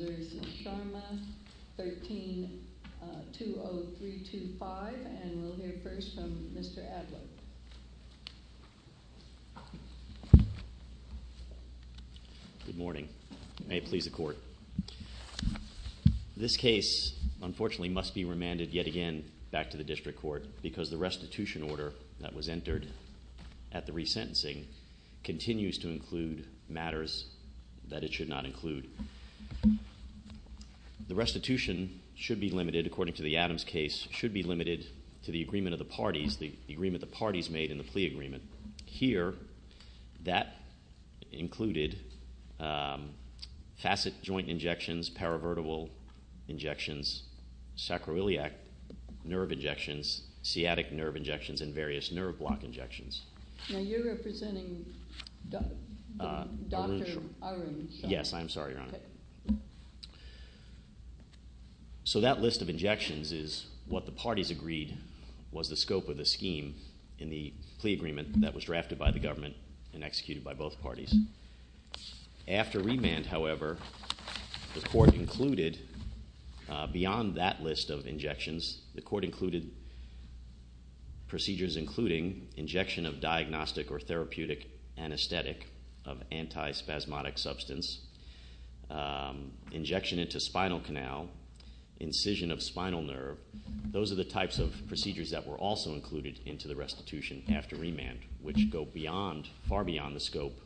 13-20325 and we'll hear first from Mr. Adler. Good morning. May it please the Court. This case, unfortunately, must be remanded yet again back to the District Court because the restitution order that was entered at the resentencing continues to include matters that it should not include. The restitution should be limited, according to the Adams case, should be limited to the agreement of the parties, the agreement the parties made in the plea agreement. Here, that included facet joint injections, paravertebral injections, sacroiliac nerve injections, sciatic nerve injections, and various nerve block injections. Now, you're representing Dr. Arun Sharma. Yes, I'm sorry, Your Honor. So that list of injections is what the parties agreed was the scope of the scheme in the plea agreement that was drafted by the government and executed by both parties. After remand, however, the Court included, beyond that list of injections, the Court included procedures including injection of diagnostic or therapeutic anesthetic of antispasmodic substance, injection into spinal canal, incision of spinal nerve. Those are the types of procedures that were also included into the restitution after remand, which go far beyond the scope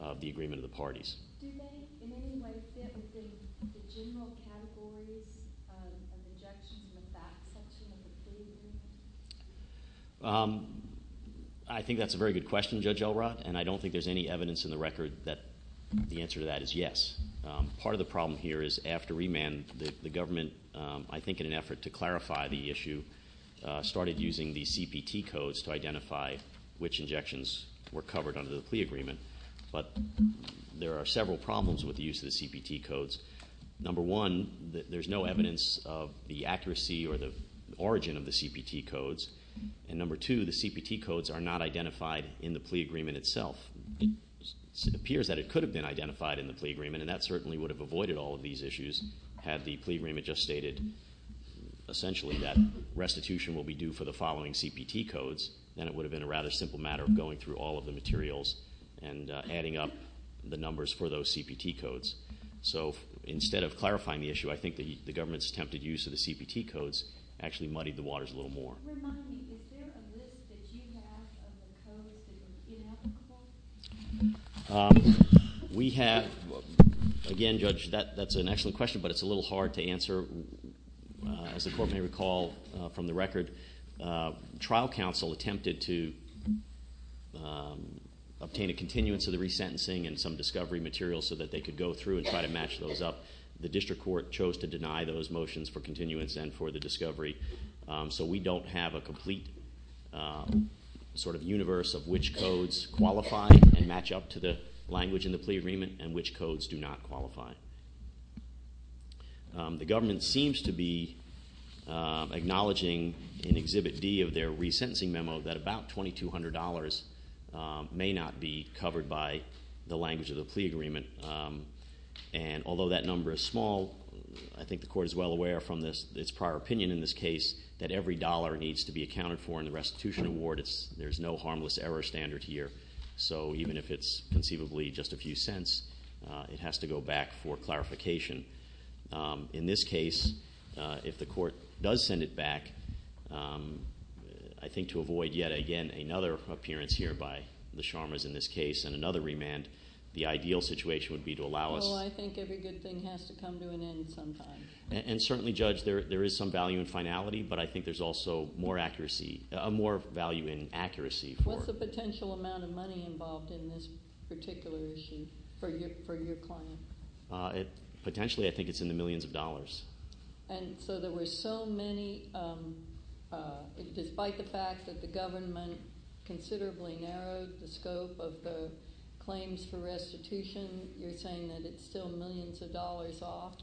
of the agreement of the parties. Do they in any way fit within the general categories of injections in the fact section of the plea agreement? I think that's a very good question, Judge Elrod, and I don't think there's any evidence in the record that the answer to that is yes. Part of the problem here is after remand, the government, I think in an effort to clarify the issue, started using the CPT codes to identify which injections were covered under the plea agreement, but there are several problems with the use of the CPT codes. Number one, there's no evidence of the accuracy or the origin of the CPT codes, and number two, the CPT codes are not identified in the plea agreement itself. It appears that it could have been identified in the plea agreement, and that certainly would have avoided all of these issues had the plea agreement just stated essentially that restitution will be due for the following CPT codes, then it would have been a rather simple matter of going through all of the materials and adding up the numbers for those CPT codes. So instead of clarifying the issue, I think the government's attempted use of the CPT codes actually muddied the waters a little more. Remind me, is there a list that you have of the codes that are ineligible? We have, again, Judge, that's an excellent question, but it's a little hard to answer. As the court may recall from the record, trial counsel attempted to obtain a continuance of the resentencing and some discovery material so that they could go through and try to match those up. The district court chose to deny those motions for continuance and for the discovery, so we don't have a complete sort of universe of which codes qualify and match up to the language in the plea agreement and which codes do not qualify. The government seems to be acknowledging in Exhibit D of their resentencing memo that about $2,200 may not be covered by the language of the plea agreement, and although that number is small, I think the court is well aware from its prior opinion in this case that every dollar needs to be accounted for in the restitution award. There's no harmless error standard here, so even if it's conceivably just a few cents, it has to go back for clarification. In this case, if the court does send it back, I think to avoid yet again another appearance here by the Sharmas in this case and another remand, the ideal situation would be to allow us... Oh, I think every good thing has to come to an end sometime. And certainly, Judge, there is some value in finality, What's the potential amount of money involved in this particular issue for your client? Potentially, I think it's in the millions of dollars. And so there were so many, despite the fact that the government considerably narrowed the scope of the claims for restitution, you're saying that it's still millions of dollars off,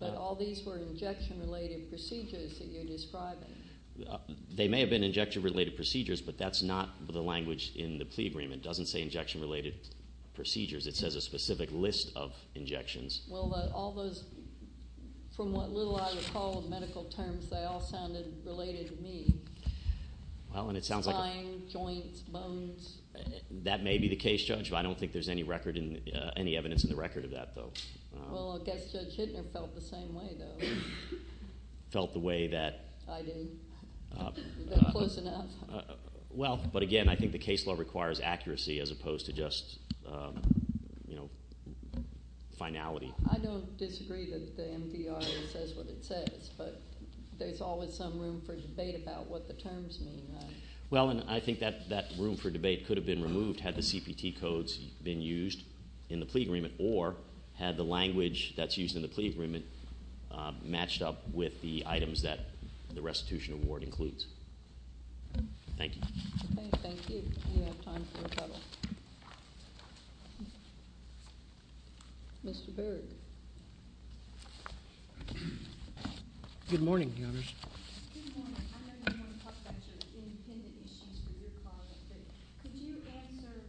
but all these were injection-related procedures that you're describing. They may have been injection-related procedures, but that's not the language in the plea agreement. It doesn't say injection-related procedures. It says a specific list of injections. Well, all those, from what little I recall of medical terms, they all sounded related to me. Well, and it sounds like... Spine, joints, bones. That may be the case, Judge. I don't think there's any evidence in the record of that, though. Well, I guess Judge Hittner felt the same way, though. Felt the way that... I do. Was that close enough? Well, but again, I think the case law requires accuracy as opposed to just finality. I don't disagree that the MDR says what it says, but there's always some room for debate about what the terms mean, right? Well, and I think that room for debate could have been removed had the CPT codes been used in the plea agreement or had the language that's used in the plea agreement matched up with the items that the restitution award includes. Thank you. Thank you. We have time for a couple. Mr. Berg. Good morning, Counselors. Good morning. I know you want to talk about your independent issues for your project, but could you answer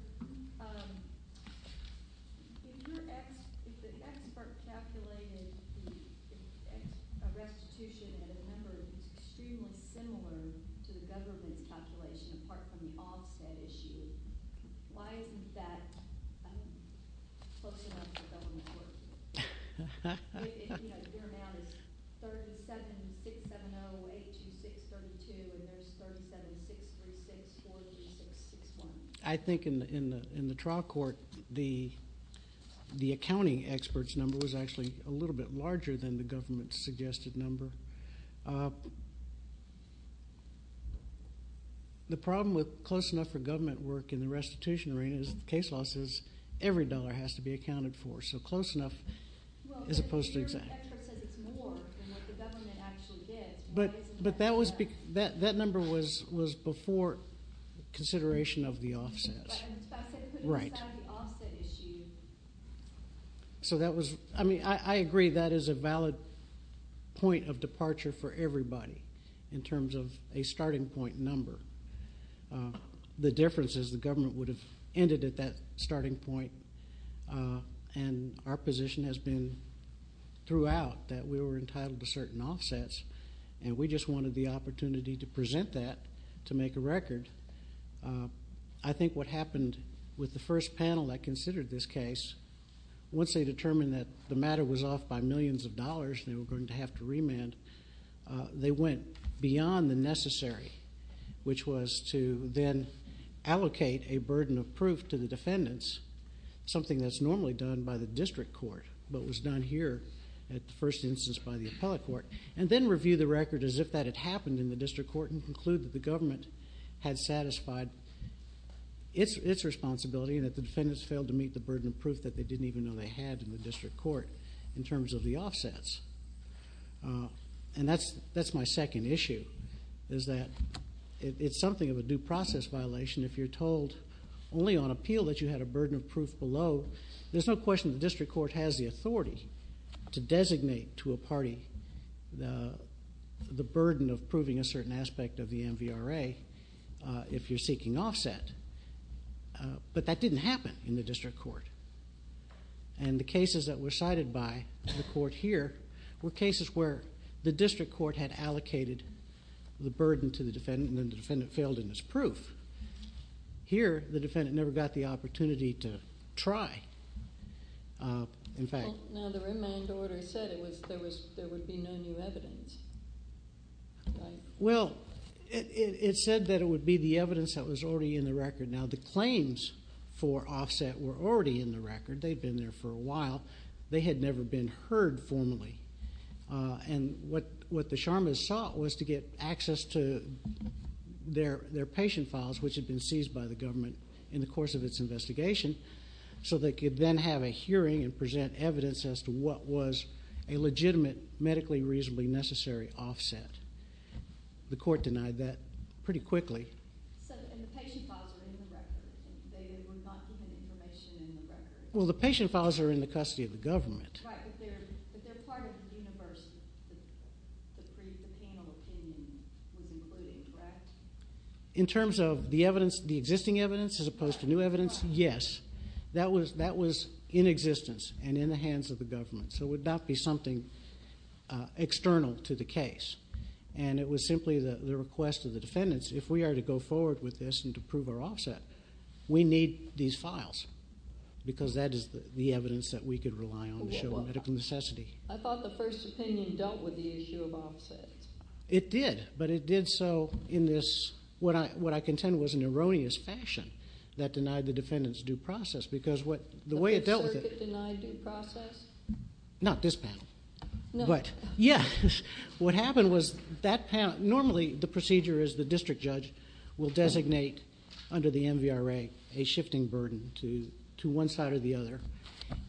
if the expert calculated a restitution at a number that's extremely similar to the government's calculation apart from the offset issue, why isn't that close enough for government work? You know, your amount is 37-670-826-32, and there's 37-636-436-61. I think in the trial court, the accounting expert's number was actually a little bit larger than the government's suggested number. The problem with close enough for government work in the restitution arena is the case law says every dollar has to be accounted for. So close enough as opposed to exact. Well, your expert said it's more than what the government actually did. But that number was before consideration of the offsets. Right. And the fact that it puts aside the offset issue. So that was – I mean, I agree that is a valid point of departure for everybody in terms of a starting point number. The difference is the government would have ended at that starting point, and our position has been throughout that we were entitled to certain offsets, and we just wanted the opportunity to present that to make a record. I think what happened with the first panel that considered this case, once they determined that the matter was off by millions of dollars and they were going to have to remand, they went beyond the necessary, which was to then allocate a burden of proof to the defendants, something that's normally done by the district court, but was done here at the first instance by the appellate court, and then review the record as if that had happened in the district court and conclude that the government had satisfied its responsibility and that the defendants failed to meet the burden of proof that they didn't even know they had in the district court in terms of the offsets. And that's my second issue, is that it's something of a due process violation. If you're told only on appeal that you had a burden of proof below, there's no question the district court has the authority to designate to a party the burden of proving a certain aspect of the MVRA if you're seeking offset. But that didn't happen in the district court. And the cases that were cited by the court here were cases where the district court had allocated the burden to the defendant and then the defendant failed in its proof. Here, the defendant never got the opportunity to try. Now, the remand order said there would be no new evidence. Well, it said that it would be the evidence that was already in the record. Now, the claims for offset were already in the record. They'd been there for a while. They had never been heard formally. And what the Sharmas sought was to get access to their patient files, which had been seized by the government in the course of its investigation, so they could then have a hearing and present evidence as to what was a legitimate medically reasonably necessary offset. The court denied that pretty quickly. So, and the patient files are in the record. They were not given information in the record. Well, the patient files are in the custody of the government. Right, but they're part of the universe that the panel opinion was including, correct? In terms of the evidence, the existing evidence as opposed to new evidence, yes. That was in existence and in the hands of the government, so it would not be something external to the case. And it was simply the request of the defendants, if we are to go forward with this and to prove our offset, we need these files because that is the evidence that we could rely on to show medical necessity. I thought the first opinion dealt with the issue of offsets. It did, but it did so in this, what I contend was an erroneous fashion that denied the defendants due process because what, the way it dealt with it. The circuit denied due process? Not this panel. No. But, yes, what happened was that panel, normally the procedure is the district judge will designate under the MVRA a shifting burden to one side or the other,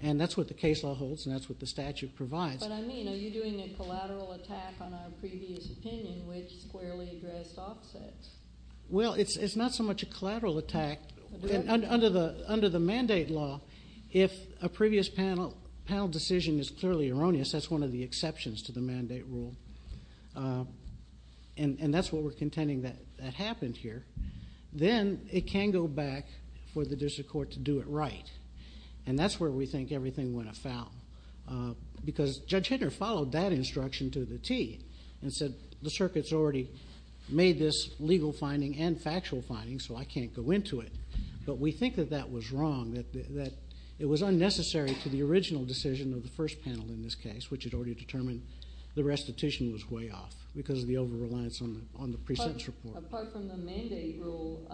and that's what the case law holds and that's what the statute provides. But I mean, are you doing a collateral attack on our previous opinion which squarely addressed offsets? Well, it's not so much a collateral attack. Under the mandate law, if a previous panel decision is clearly erroneous, that's one of the exceptions to the mandate rule, and that's what we're contending that happened here. Then it can go back for the district court to do it right, and that's where we think everything went afoul because Judge Hittner followed that instruction to the T and said, the circuit's already made this legal finding and factual finding, so I can't go into it. But we think that that was wrong, that it was unnecessary to the original decision of the first panel in this case, which had already determined the restitution was way off because of the over-reliance on the pre-sentence report. Apart from the mandate rule,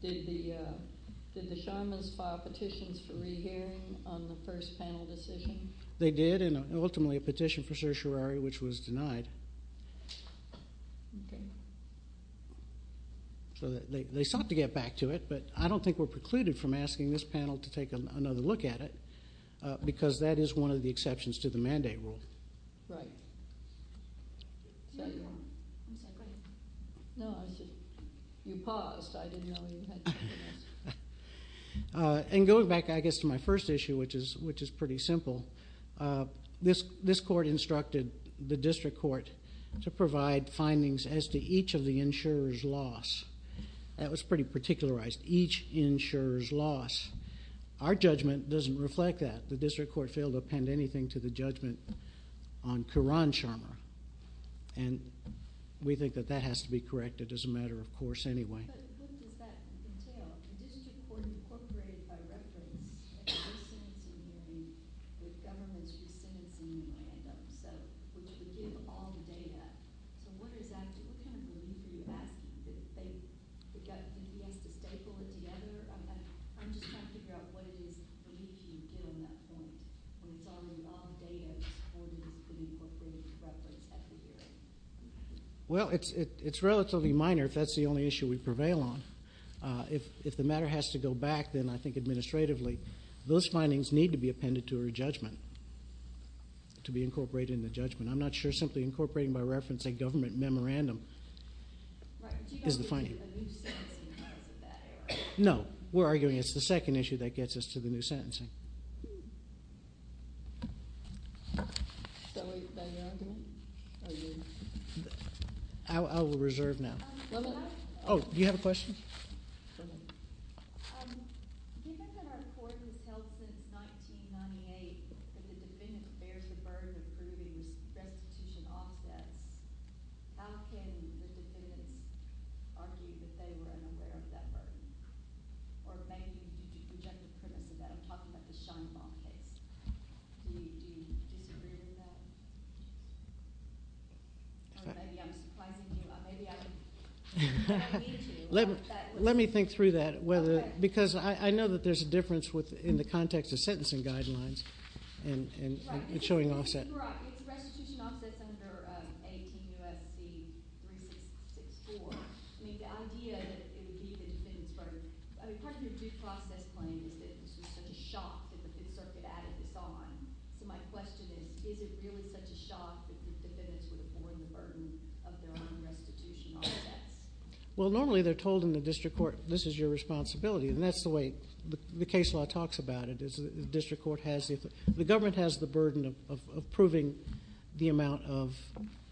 did the Sharmans file petitions for rehearing on the first panel decision? They did, and ultimately a petition for certiorari, which was denied. So they sought to get back to it, but I don't think we're precluded from asking this panel to take another look at it because that is one of the exceptions to the mandate rule. Right. You paused. And going back, I guess, to my first issue, which is pretty simple, this court instructed the district court to provide findings as to each of the insurers' loss. That was pretty particularized, each insurer's loss. Our judgment doesn't reflect that. The district court failed to append anything to the judgment on Keran Sharma, and we think that that has to be corrected as a matter of course anyway. But what does that entail? The district court incorporated a reference at the first sentencing hearing with governments who sentenced him in random, which would give all the data. So what is that? What kind of relief are you asking? Do you think he has to staple it together? I'm just trying to figure out what it is relief you would give on that point when it's already all the data that the district court incorporated as reference at the hearing. Well, it's relatively minor if that's the only issue we prevail on. If the matter has to go back, then I think administratively, those findings need to be appended to her judgment, to be incorporated in the judgment. I'm not sure simply incorporating by reference a government memorandum is the finding. Right, but you got to get a new sentencing in regards to that area. No, we're arguing it's the second issue that gets us to the new sentencing. Thank you. I will reserve now. Oh, do you have a question? Given that our court has held since 1998 that the defendant bears the burden of proving restitution offsets, how can the defendants argue that they were unaware of that burden? Or maybe you could reject the premise of that. I'm talking about the Scheinbaum case. Do you disagree with that? Or maybe I'm surprising you. Maybe I need to. Let me think through that. Because I know that there's a difference in the context of sentencing guidelines and showing offsets. You're right. If the restitution offsets under 18 U.S.C. 3664, I mean, the idea that it would be the defendant's burden. I mean, part of your due process claim is that it's just such a shock that the Fifth Circuit added this on. So my question is, is it really such a shock that the defendants would afford the burden of their own restitution offsets? Well, normally they're told in the district court, this is your responsibility. And that's the way the case law talks about it. The government has the burden of proving the amount of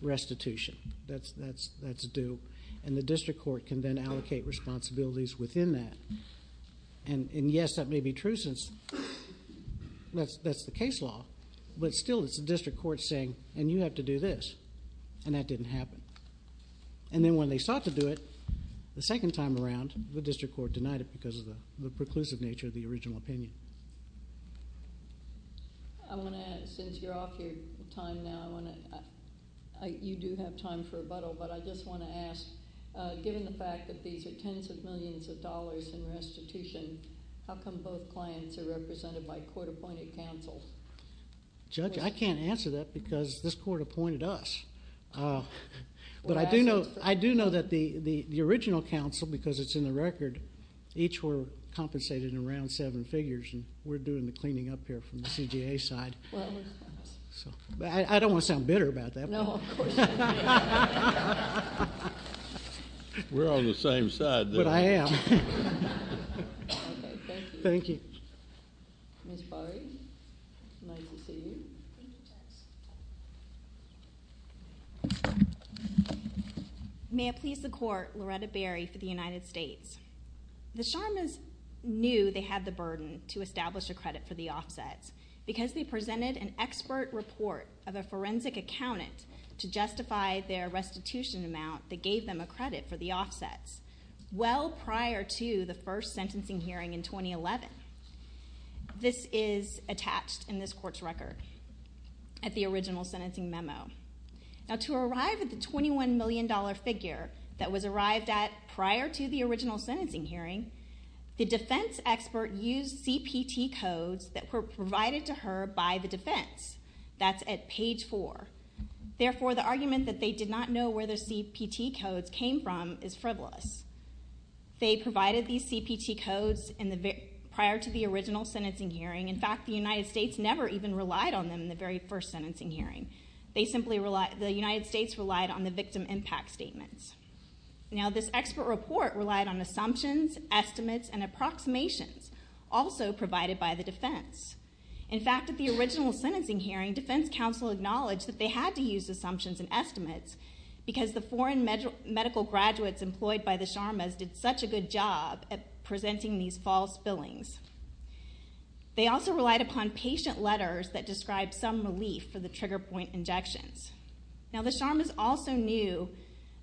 restitution. That's due. And the district court can then allocate responsibilities within that. And, yes, that may be true since that's the case law, but still it's the district court saying, and you have to do this. And that didn't happen. And then when they sought to do it the second time around, the district court denied it because of the preclusive nature of the original opinion. I want to add, since you're off your time now, you do have time for rebuttal, but I just want to ask, given the fact that these are tens of millions of dollars in restitution, how come both clients are represented by court-appointed counsel? Judge, I can't answer that because this court appointed us. But I do know that the original counsel, because it's in the record, each were compensated around seven figures, and we're doing the cleaning up here from the CGA side. I don't want to sound bitter about that. No, of course not. We're on the same side, though. But I am. Thank you. Ms. Barry, nice to see you. May it please the Court, Loretta Barry for the United States. The Sharmas knew they had the burden to establish a credit for the offsets because they presented an expert report of a forensic accountant to justify their restitution amount that gave them a credit for the offsets well prior to the first sentencing hearing in 2011. This is attached in this court's record at the original sentencing memo. Now, to arrive at the $21 million figure that was arrived at prior to the original sentencing hearing, the defense expert used CPT codes that were provided to her by the defense. That's at page four. Therefore, the argument that they did not know where the CPT codes came from is frivolous. They provided these CPT codes prior to the original sentencing hearing. In fact, the United States never even relied on them in the very first sentencing hearing. The United States relied on the victim impact statements. Now, this expert report relied on assumptions, estimates, and approximations, also provided by the defense. In fact, at the original sentencing hearing, defense counsel acknowledged that they had to use assumptions and estimates because the foreign medical graduates employed by the Sharmas did such a good job at presenting these false fillings. They also relied upon patient letters that described some relief for the trigger point injections. Now, the Sharmas also knew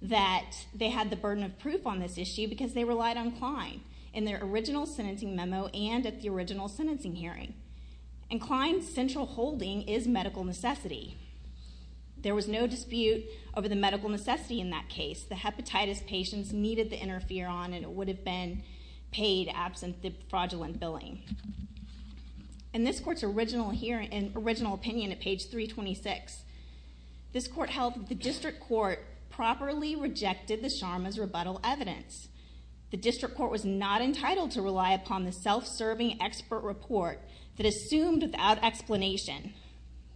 that they had the burden of proof on this issue because they relied on Klein in their original sentencing memo and at the original sentencing hearing. And Klein's central holding is medical necessity. There was no dispute over the medical necessity in that case. The hepatitis patients needed the interferon, and it would have been paid absent the fraudulent billing. In this court's original opinion at page 326, this court held that the district court properly rejected the Sharmas' rebuttal evidence. The district court was not entitled to rely upon the self-serving expert report that assumed without explanation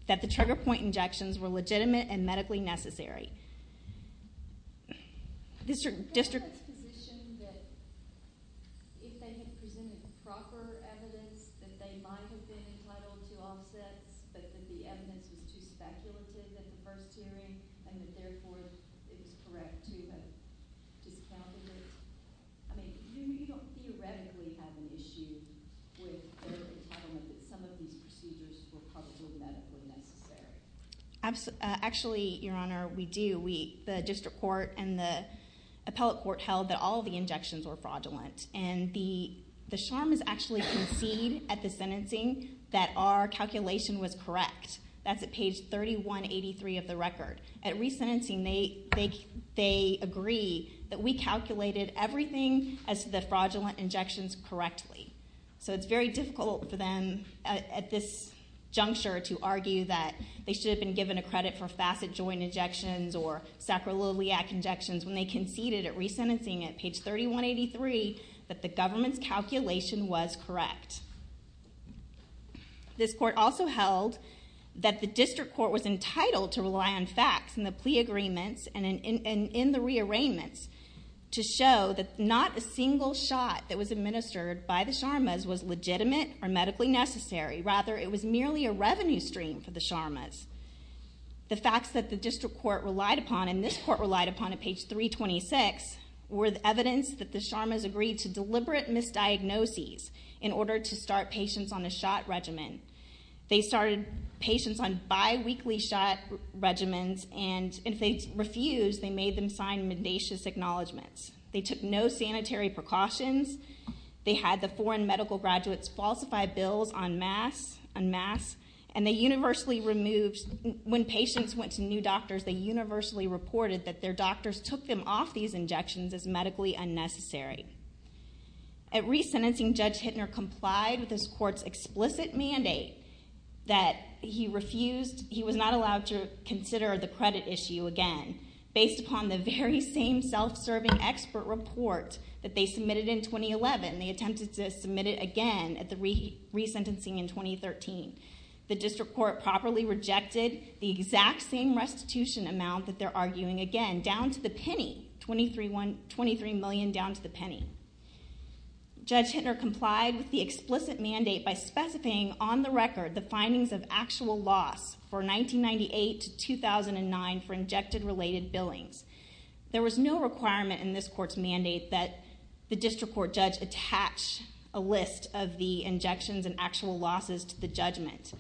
that the trigger point injections were legitimate and medically necessary. District? Did the district court position that if they had presented proper evidence that they might have been entitled to offsets, but that the evidence was too speculative at the first hearing and that therefore it was correct to have discounted it? I mean, you don't theoretically have an issue with their entitlement that some of these procedures were probably medically necessary. Actually, Your Honor, we do. The district court and the appellate court held that all of the injections were fraudulent, and the Sharmas actually conceded at the sentencing that our calculation was correct. That's at page 3183 of the record. At resentencing, they agree that we calculated everything as to the fraudulent injections correctly. So it's very difficult for them at this juncture to argue that they should have been given a credit for facet joint injections or sacroiliac injections when they conceded at resentencing at page 3183 that the government's calculation was correct. This court also held that the district court was entitled to rely on facts in the plea agreements and in the rearrangements to show that not a single shot that was administered by the Sharmas was legitimate or medically necessary. Rather, it was merely a revenue stream for the Sharmas. The facts that the district court relied upon and this court relied upon at page 326 were the evidence that the Sharmas agreed to deliberate misdiagnoses in order to start patients on a shot regimen. They started patients on biweekly shot regimens, and if they refused, they made them sign mendacious acknowledgments. They took no sanitary precautions. They had the foreign medical graduates falsify bills en masse, and they universally removed when patients went to new doctors, they universally reported that their doctors took them off these injections as medically unnecessary. At resentencing, Judge Hittner complied with this court's explicit mandate that he refused, he was not allowed to consider the credit issue again based upon the very same self-serving expert report that they submitted in 2011. They attempted to submit it again at the resentencing in 2013. The district court properly rejected the exact same restitution amount that they're arguing again, down to the penny, $23 million down to the penny. Judge Hittner complied with the explicit mandate by specifying on the record the findings of actual loss for 1998 to 2009 for injected-related billings. There was no requirement in this court's mandate that the district court judge attach a list of the injections and actual losses to the judgment.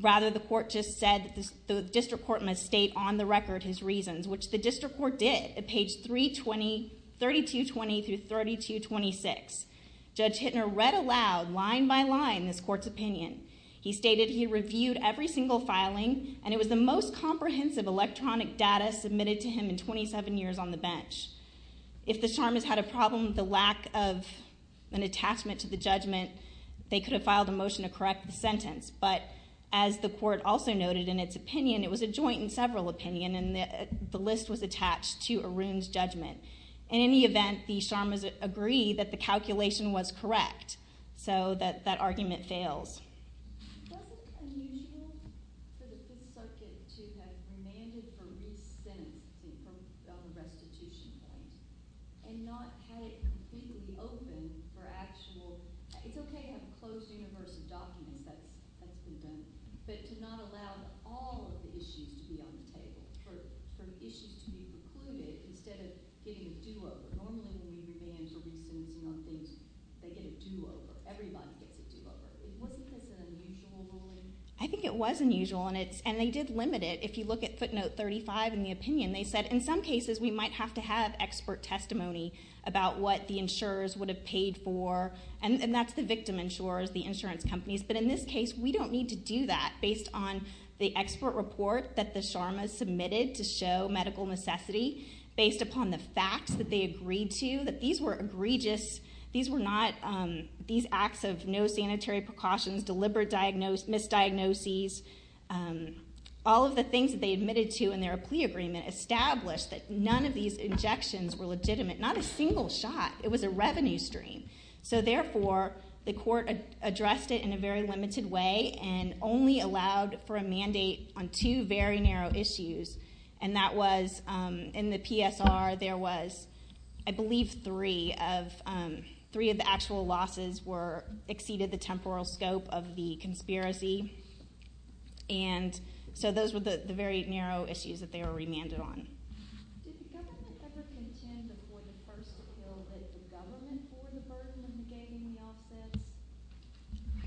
Rather, the court just said that the district court must state on the record his reasons, which the district court did at page 3220 through 3226. Judge Hittner read aloud, line by line, this court's opinion. He stated he reviewed every single filing, and it was the most comprehensive electronic data submitted to him in 27 years on the bench. If the Sharmas had a problem with the lack of an attachment to the judgment, they could have filed a motion to correct the sentence, but as the court also noted in its opinion, it was a joint and several opinion, and the list was attached to Arun's judgment. In any event, the Sharmas agree that the calculation was correct, so that argument fails. Doesn't it seem unusual for the Fifth Circuit to have demanded for re-sentencing from the restitution point and not have it completely open for actual... It's OK to have a closed universe of documents that's been done, but to not allow all of the issues to be on the table, for issues to be precluded instead of getting a do-over? Normally, when you demand for re-sentencing on things, they get a do-over. Everybody gets a do-over. Wasn't this an unusual ruling? I think it was unusual, and they did limit it. If you look at footnote 35 in the opinion, they said, in some cases, we might have to have expert testimony about what the insurers would have paid for, and that's the victim insurers, the insurance companies, but in this case, we don't need to do that based on the expert report that the Sharmas submitted to show medical necessity, based upon the facts that they agreed to, that these were egregious... These acts of no sanitary precautions, deliberate misdiagnoses, all of the things that they admitted to in their plea agreement established that none of these injections were legitimate. Not a single shot. It was a revenue stream. So, therefore, the court addressed it in a very limited way and only allowed for a mandate on two very narrow issues, three of the actual losses exceeded the temporal scope of the conspiracy, and so those were the very narrow issues that they were remanded on. Did the government ever contend before the first appeal that the government bore the burden of negating the offsets?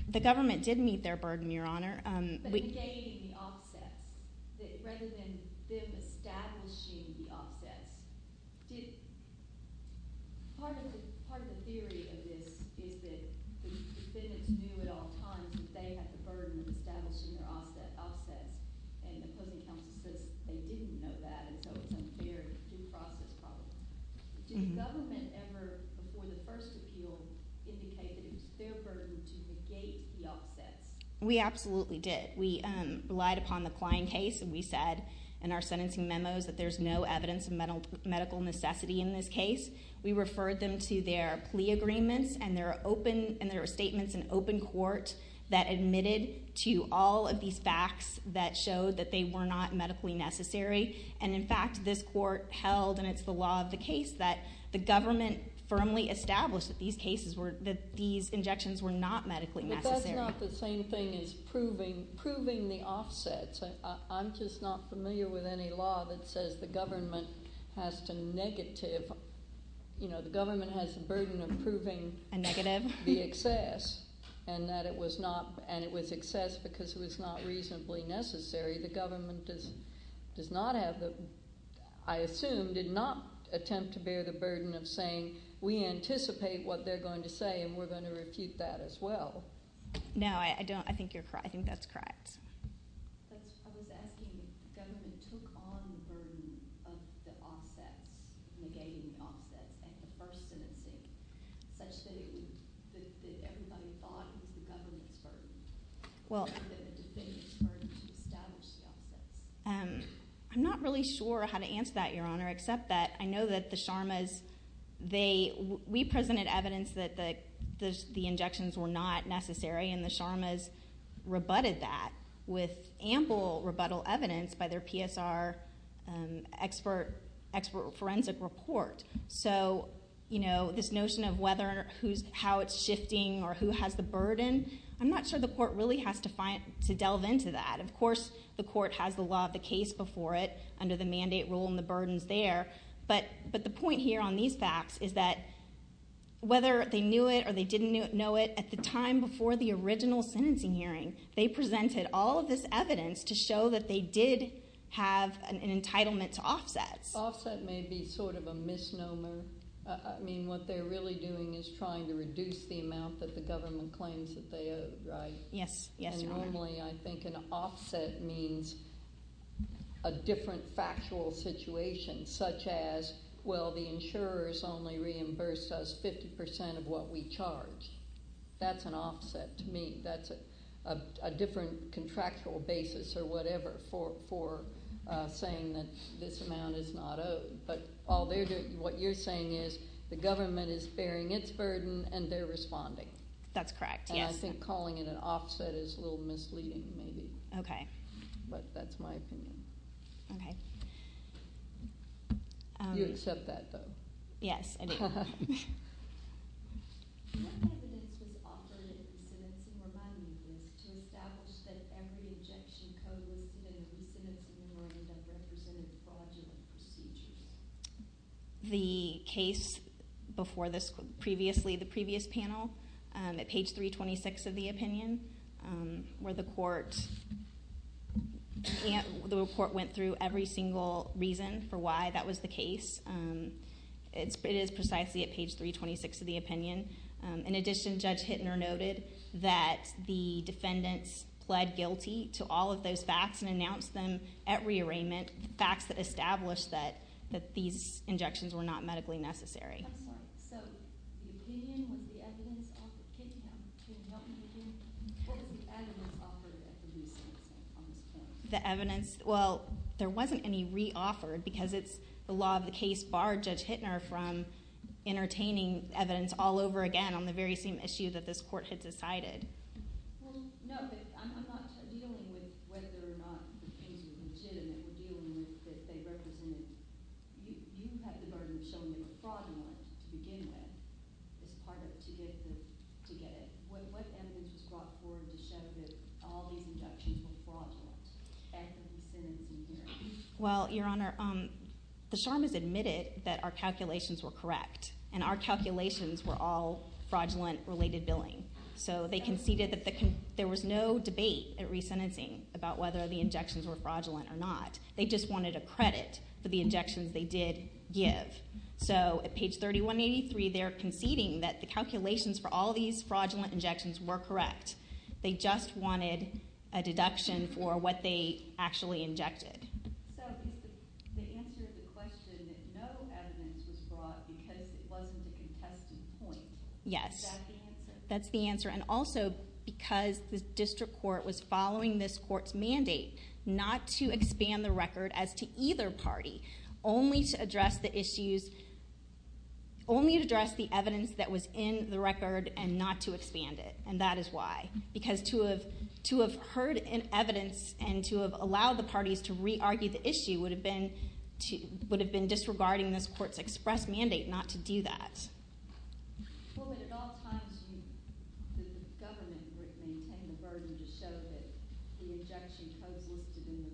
The government did meet their burden, Your Honor. But negating the offsets, rather than them establishing the offsets. Did... Part of the theory of this is that the defendants knew at all times that they had the burden of establishing their offsets, and the closing counsel says they didn't know that, and so it's unfair due process property. Did the government ever, before the first appeal, indicate that it was their burden to negate the offsets? We absolutely did. We relied upon the Klein case, and we said in our sentencing memos that there's no evidence of medical necessity in this case. We referred them to their plea agreements, and there were statements in open court that admitted to all of these facts that showed that they were not medically necessary, and, in fact, this court held, and it's the law of the case, that the government firmly established that these injections were not medically necessary. But that's not the same thing as proving the offsets. I'm just not familiar with any law that says the government has to negative... You know, the government has the burden of proving... A negative? ..the excess, and that it was not... And it was excess because it was not reasonably necessary. The government does not have the... I assume did not attempt to bear the burden of saying, we anticipate what they're going to say, and we're going to refute that as well. No, I don't. I think that's correct. I was asking if the government took on the burden of the offsets, negating the offsets, at the first sentencing, such that everybody thought that the government's burden... Well... ..to establish the offsets. I'm not really sure how to answer that, Your Honour, except that I know that the Sharmas, they...we presented evidence that the injections were not necessary, and the Sharmas rebutted that with ample rebuttal evidence by their PSR expert forensic report. So, you know, this notion of how it's shifting or who has the burden, I'm not sure the court really has to delve into that. Of course the court has the law of the case before it, under the mandate rule, and the burden's there, but the point here on these facts is that whether they knew it or they didn't know it, at the time before the original sentencing hearing, they presented all of this evidence to show that they did have an entitlement to offsets. Offset may be sort of a misnomer. I mean, what they're really doing is trying to reduce the amount that the government claims that they owe, right? Yes. Yes, Your Honour. Normally, I think an offset means a different factual situation, such as, well, the insurers only reimbursed us 50% of what we charged. That's an offset to me. That's a different contractual basis or whatever for saying that this amount is not owed. But what you're saying is the government is bearing its burden and they're responding. That's correct, yes. And I think calling it an offset is a little misleading, maybe. Okay. But that's my opinion. Okay. You accept that, though? Yes, I do. The case before this... Previously, the previous panel, at page 326 of the opinion, where the court... The report went through every single reason for why that was the case. It is precisely at page 326 of the opinion. In addition, Judge Hittner noted that the defendants pled guilty to all of those facts and announced them at rearrangement, the facts that established that these injections were not medically necessary. I'm sorry. So, the opinion was the evidence of the case. Can you help me with that? What was the evidence offered at the resale on this case? The evidence? Well, there wasn't any re-offered because it's the law of the case barred Judge Hittner from entertaining evidence all over again on the very same issue that this court had decided. Well, no, but I'm not dealing with whether or not the case was legitimate. We're dealing with if they represented... You have the burden of showing them a fraudulent to begin with as part of to get the... to get it. What evidence was brought forward to show that all these injections were fraudulent after the sentencing here? Well, Your Honor, the SHARM has admitted that our calculations were correct, and our calculations were all fraudulent-related billing. So, they conceded that there was no debate at resentencing about whether the injections were fraudulent or not. They just wanted a credit for the injections they did give. So, at page 3183, they're conceding that the calculations for all these fraudulent injections were correct. They just wanted a deduction for what they actually injected. So, the answer to the question that no evidence was brought because it wasn't a contested point, yes, that's the answer, and also because the district court was following this court's mandate not to expand the record as to either party, only to address the issues... only to address the evidence that was in the record and not to expand it, and that is why. Because to have heard evidence and to have allowed the parties to re-argue the issue would have been disregarding this court's express mandate not to do that. Well, but at all times, the government would maintain the burden to show that the injection codes listed in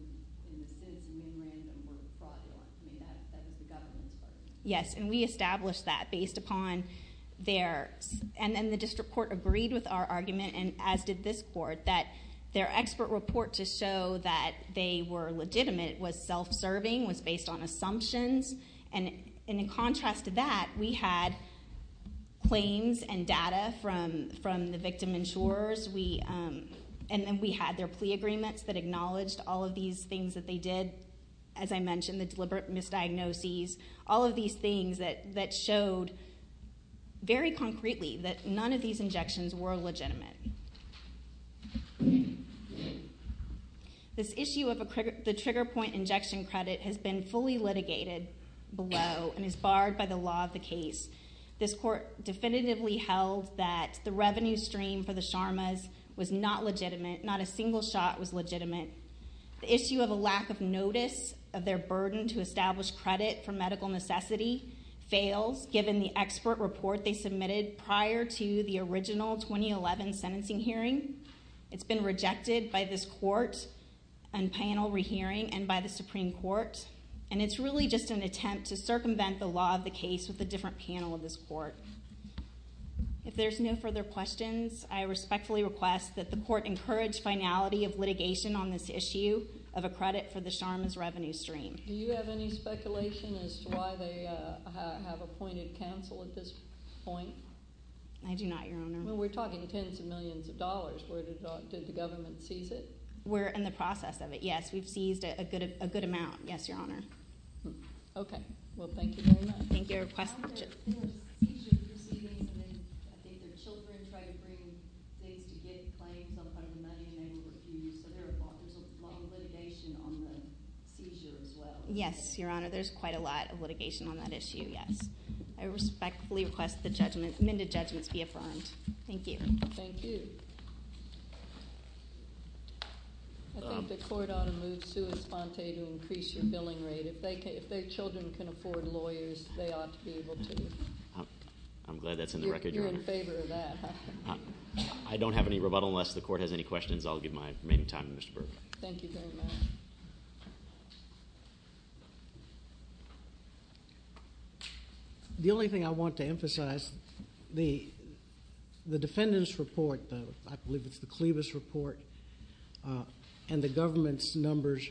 the sentencing memorandum were fraudulent. I mean, that was the government's burden. Yes, and we established that based upon their... And then the district court agreed with our argument, and as did this court, that their expert report to show that they were legitimate was self-serving, was based on assumptions, and in contrast to that, we had claims and data from the victim insurers, and then we had their plea agreements that acknowledged all of these things that they did, as I mentioned, the deliberate misdiagnoses, all of these things that showed very concretely that none of these injections were legitimate. This issue of the trigger point injection credit has been fully litigated below and is barred by the law of the case. This court definitively held that the revenue stream for the Sharmas was not legitimate, not a single shot was legitimate. The issue of a lack of notice of their burden to establish credit for medical necessity fails, given the expert report they submitted prior to the original 2011 sentencing hearing. It's been rejected by this court and panel re-hearing and by the Supreme Court, and it's really just an attempt to circumvent the law of the case with a different panel of this court. If there's no further questions, I respectfully request that the court encourage finality of litigation on this issue of a credit for the Sharmas revenue stream. Do you have any speculation as to why they have appointed counsel at this point? I do not, Your Honor. We're talking tens of millions of dollars. Did the government seize it? We're in the process of it, yes. We've seized a good amount, yes, Your Honor. Okay, well, thank you very much. Thank you. Yes, Your Honor, there's quite a lot of litigation on that issue, yes. I respectfully request the amended judgments be affirmed. Thank you. Thank you. I think the court ought to move sui sponte to increase your billing rate. If their children can afford lawyers, they ought to be able to. I'm glad that's in the record, Your Honor. You're in favor of that, huh? I don't have any rebuttal unless the court has any questions. I'll give my remaining time to Mr. Burke. Thank you very much. The only thing I want to emphasize, the defendant's report, I believe it's the Clevis report, and the government's numbers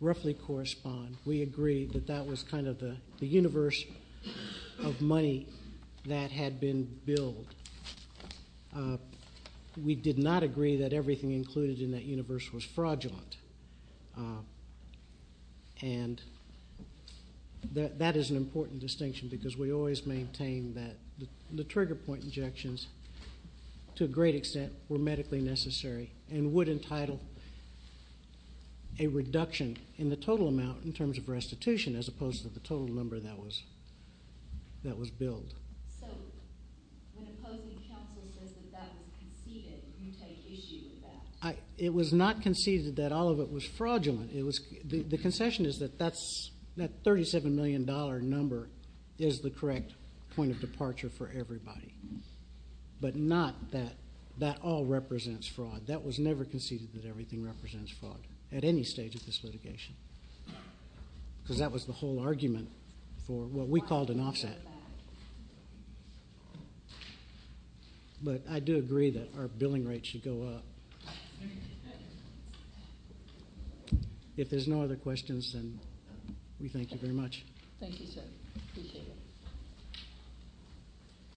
roughly correspond. We agree that that was kind of the universe of money that had been billed. We did not agree that everything included in that universe was fraudulent. And that is an important distinction because we always maintain that the trigger point injections, to a great extent, were medically necessary. And would entitle a reduction in the total amount in terms of restitution as opposed to the total number that was billed. So, when opposing counsel says that that was conceded, you take issue with that? It was not conceded that all of it was fraudulent. The concession is that that $37 million number is the correct point of departure for everybody. But not that that all represents fraud. That was never conceded that everything represents fraud at any stage of this litigation. Because that was the whole argument for what we called an offset. But I do agree that our billing rate should go up. If there's no other questions, then we thank you very much. Thank you, sir. Appreciate it.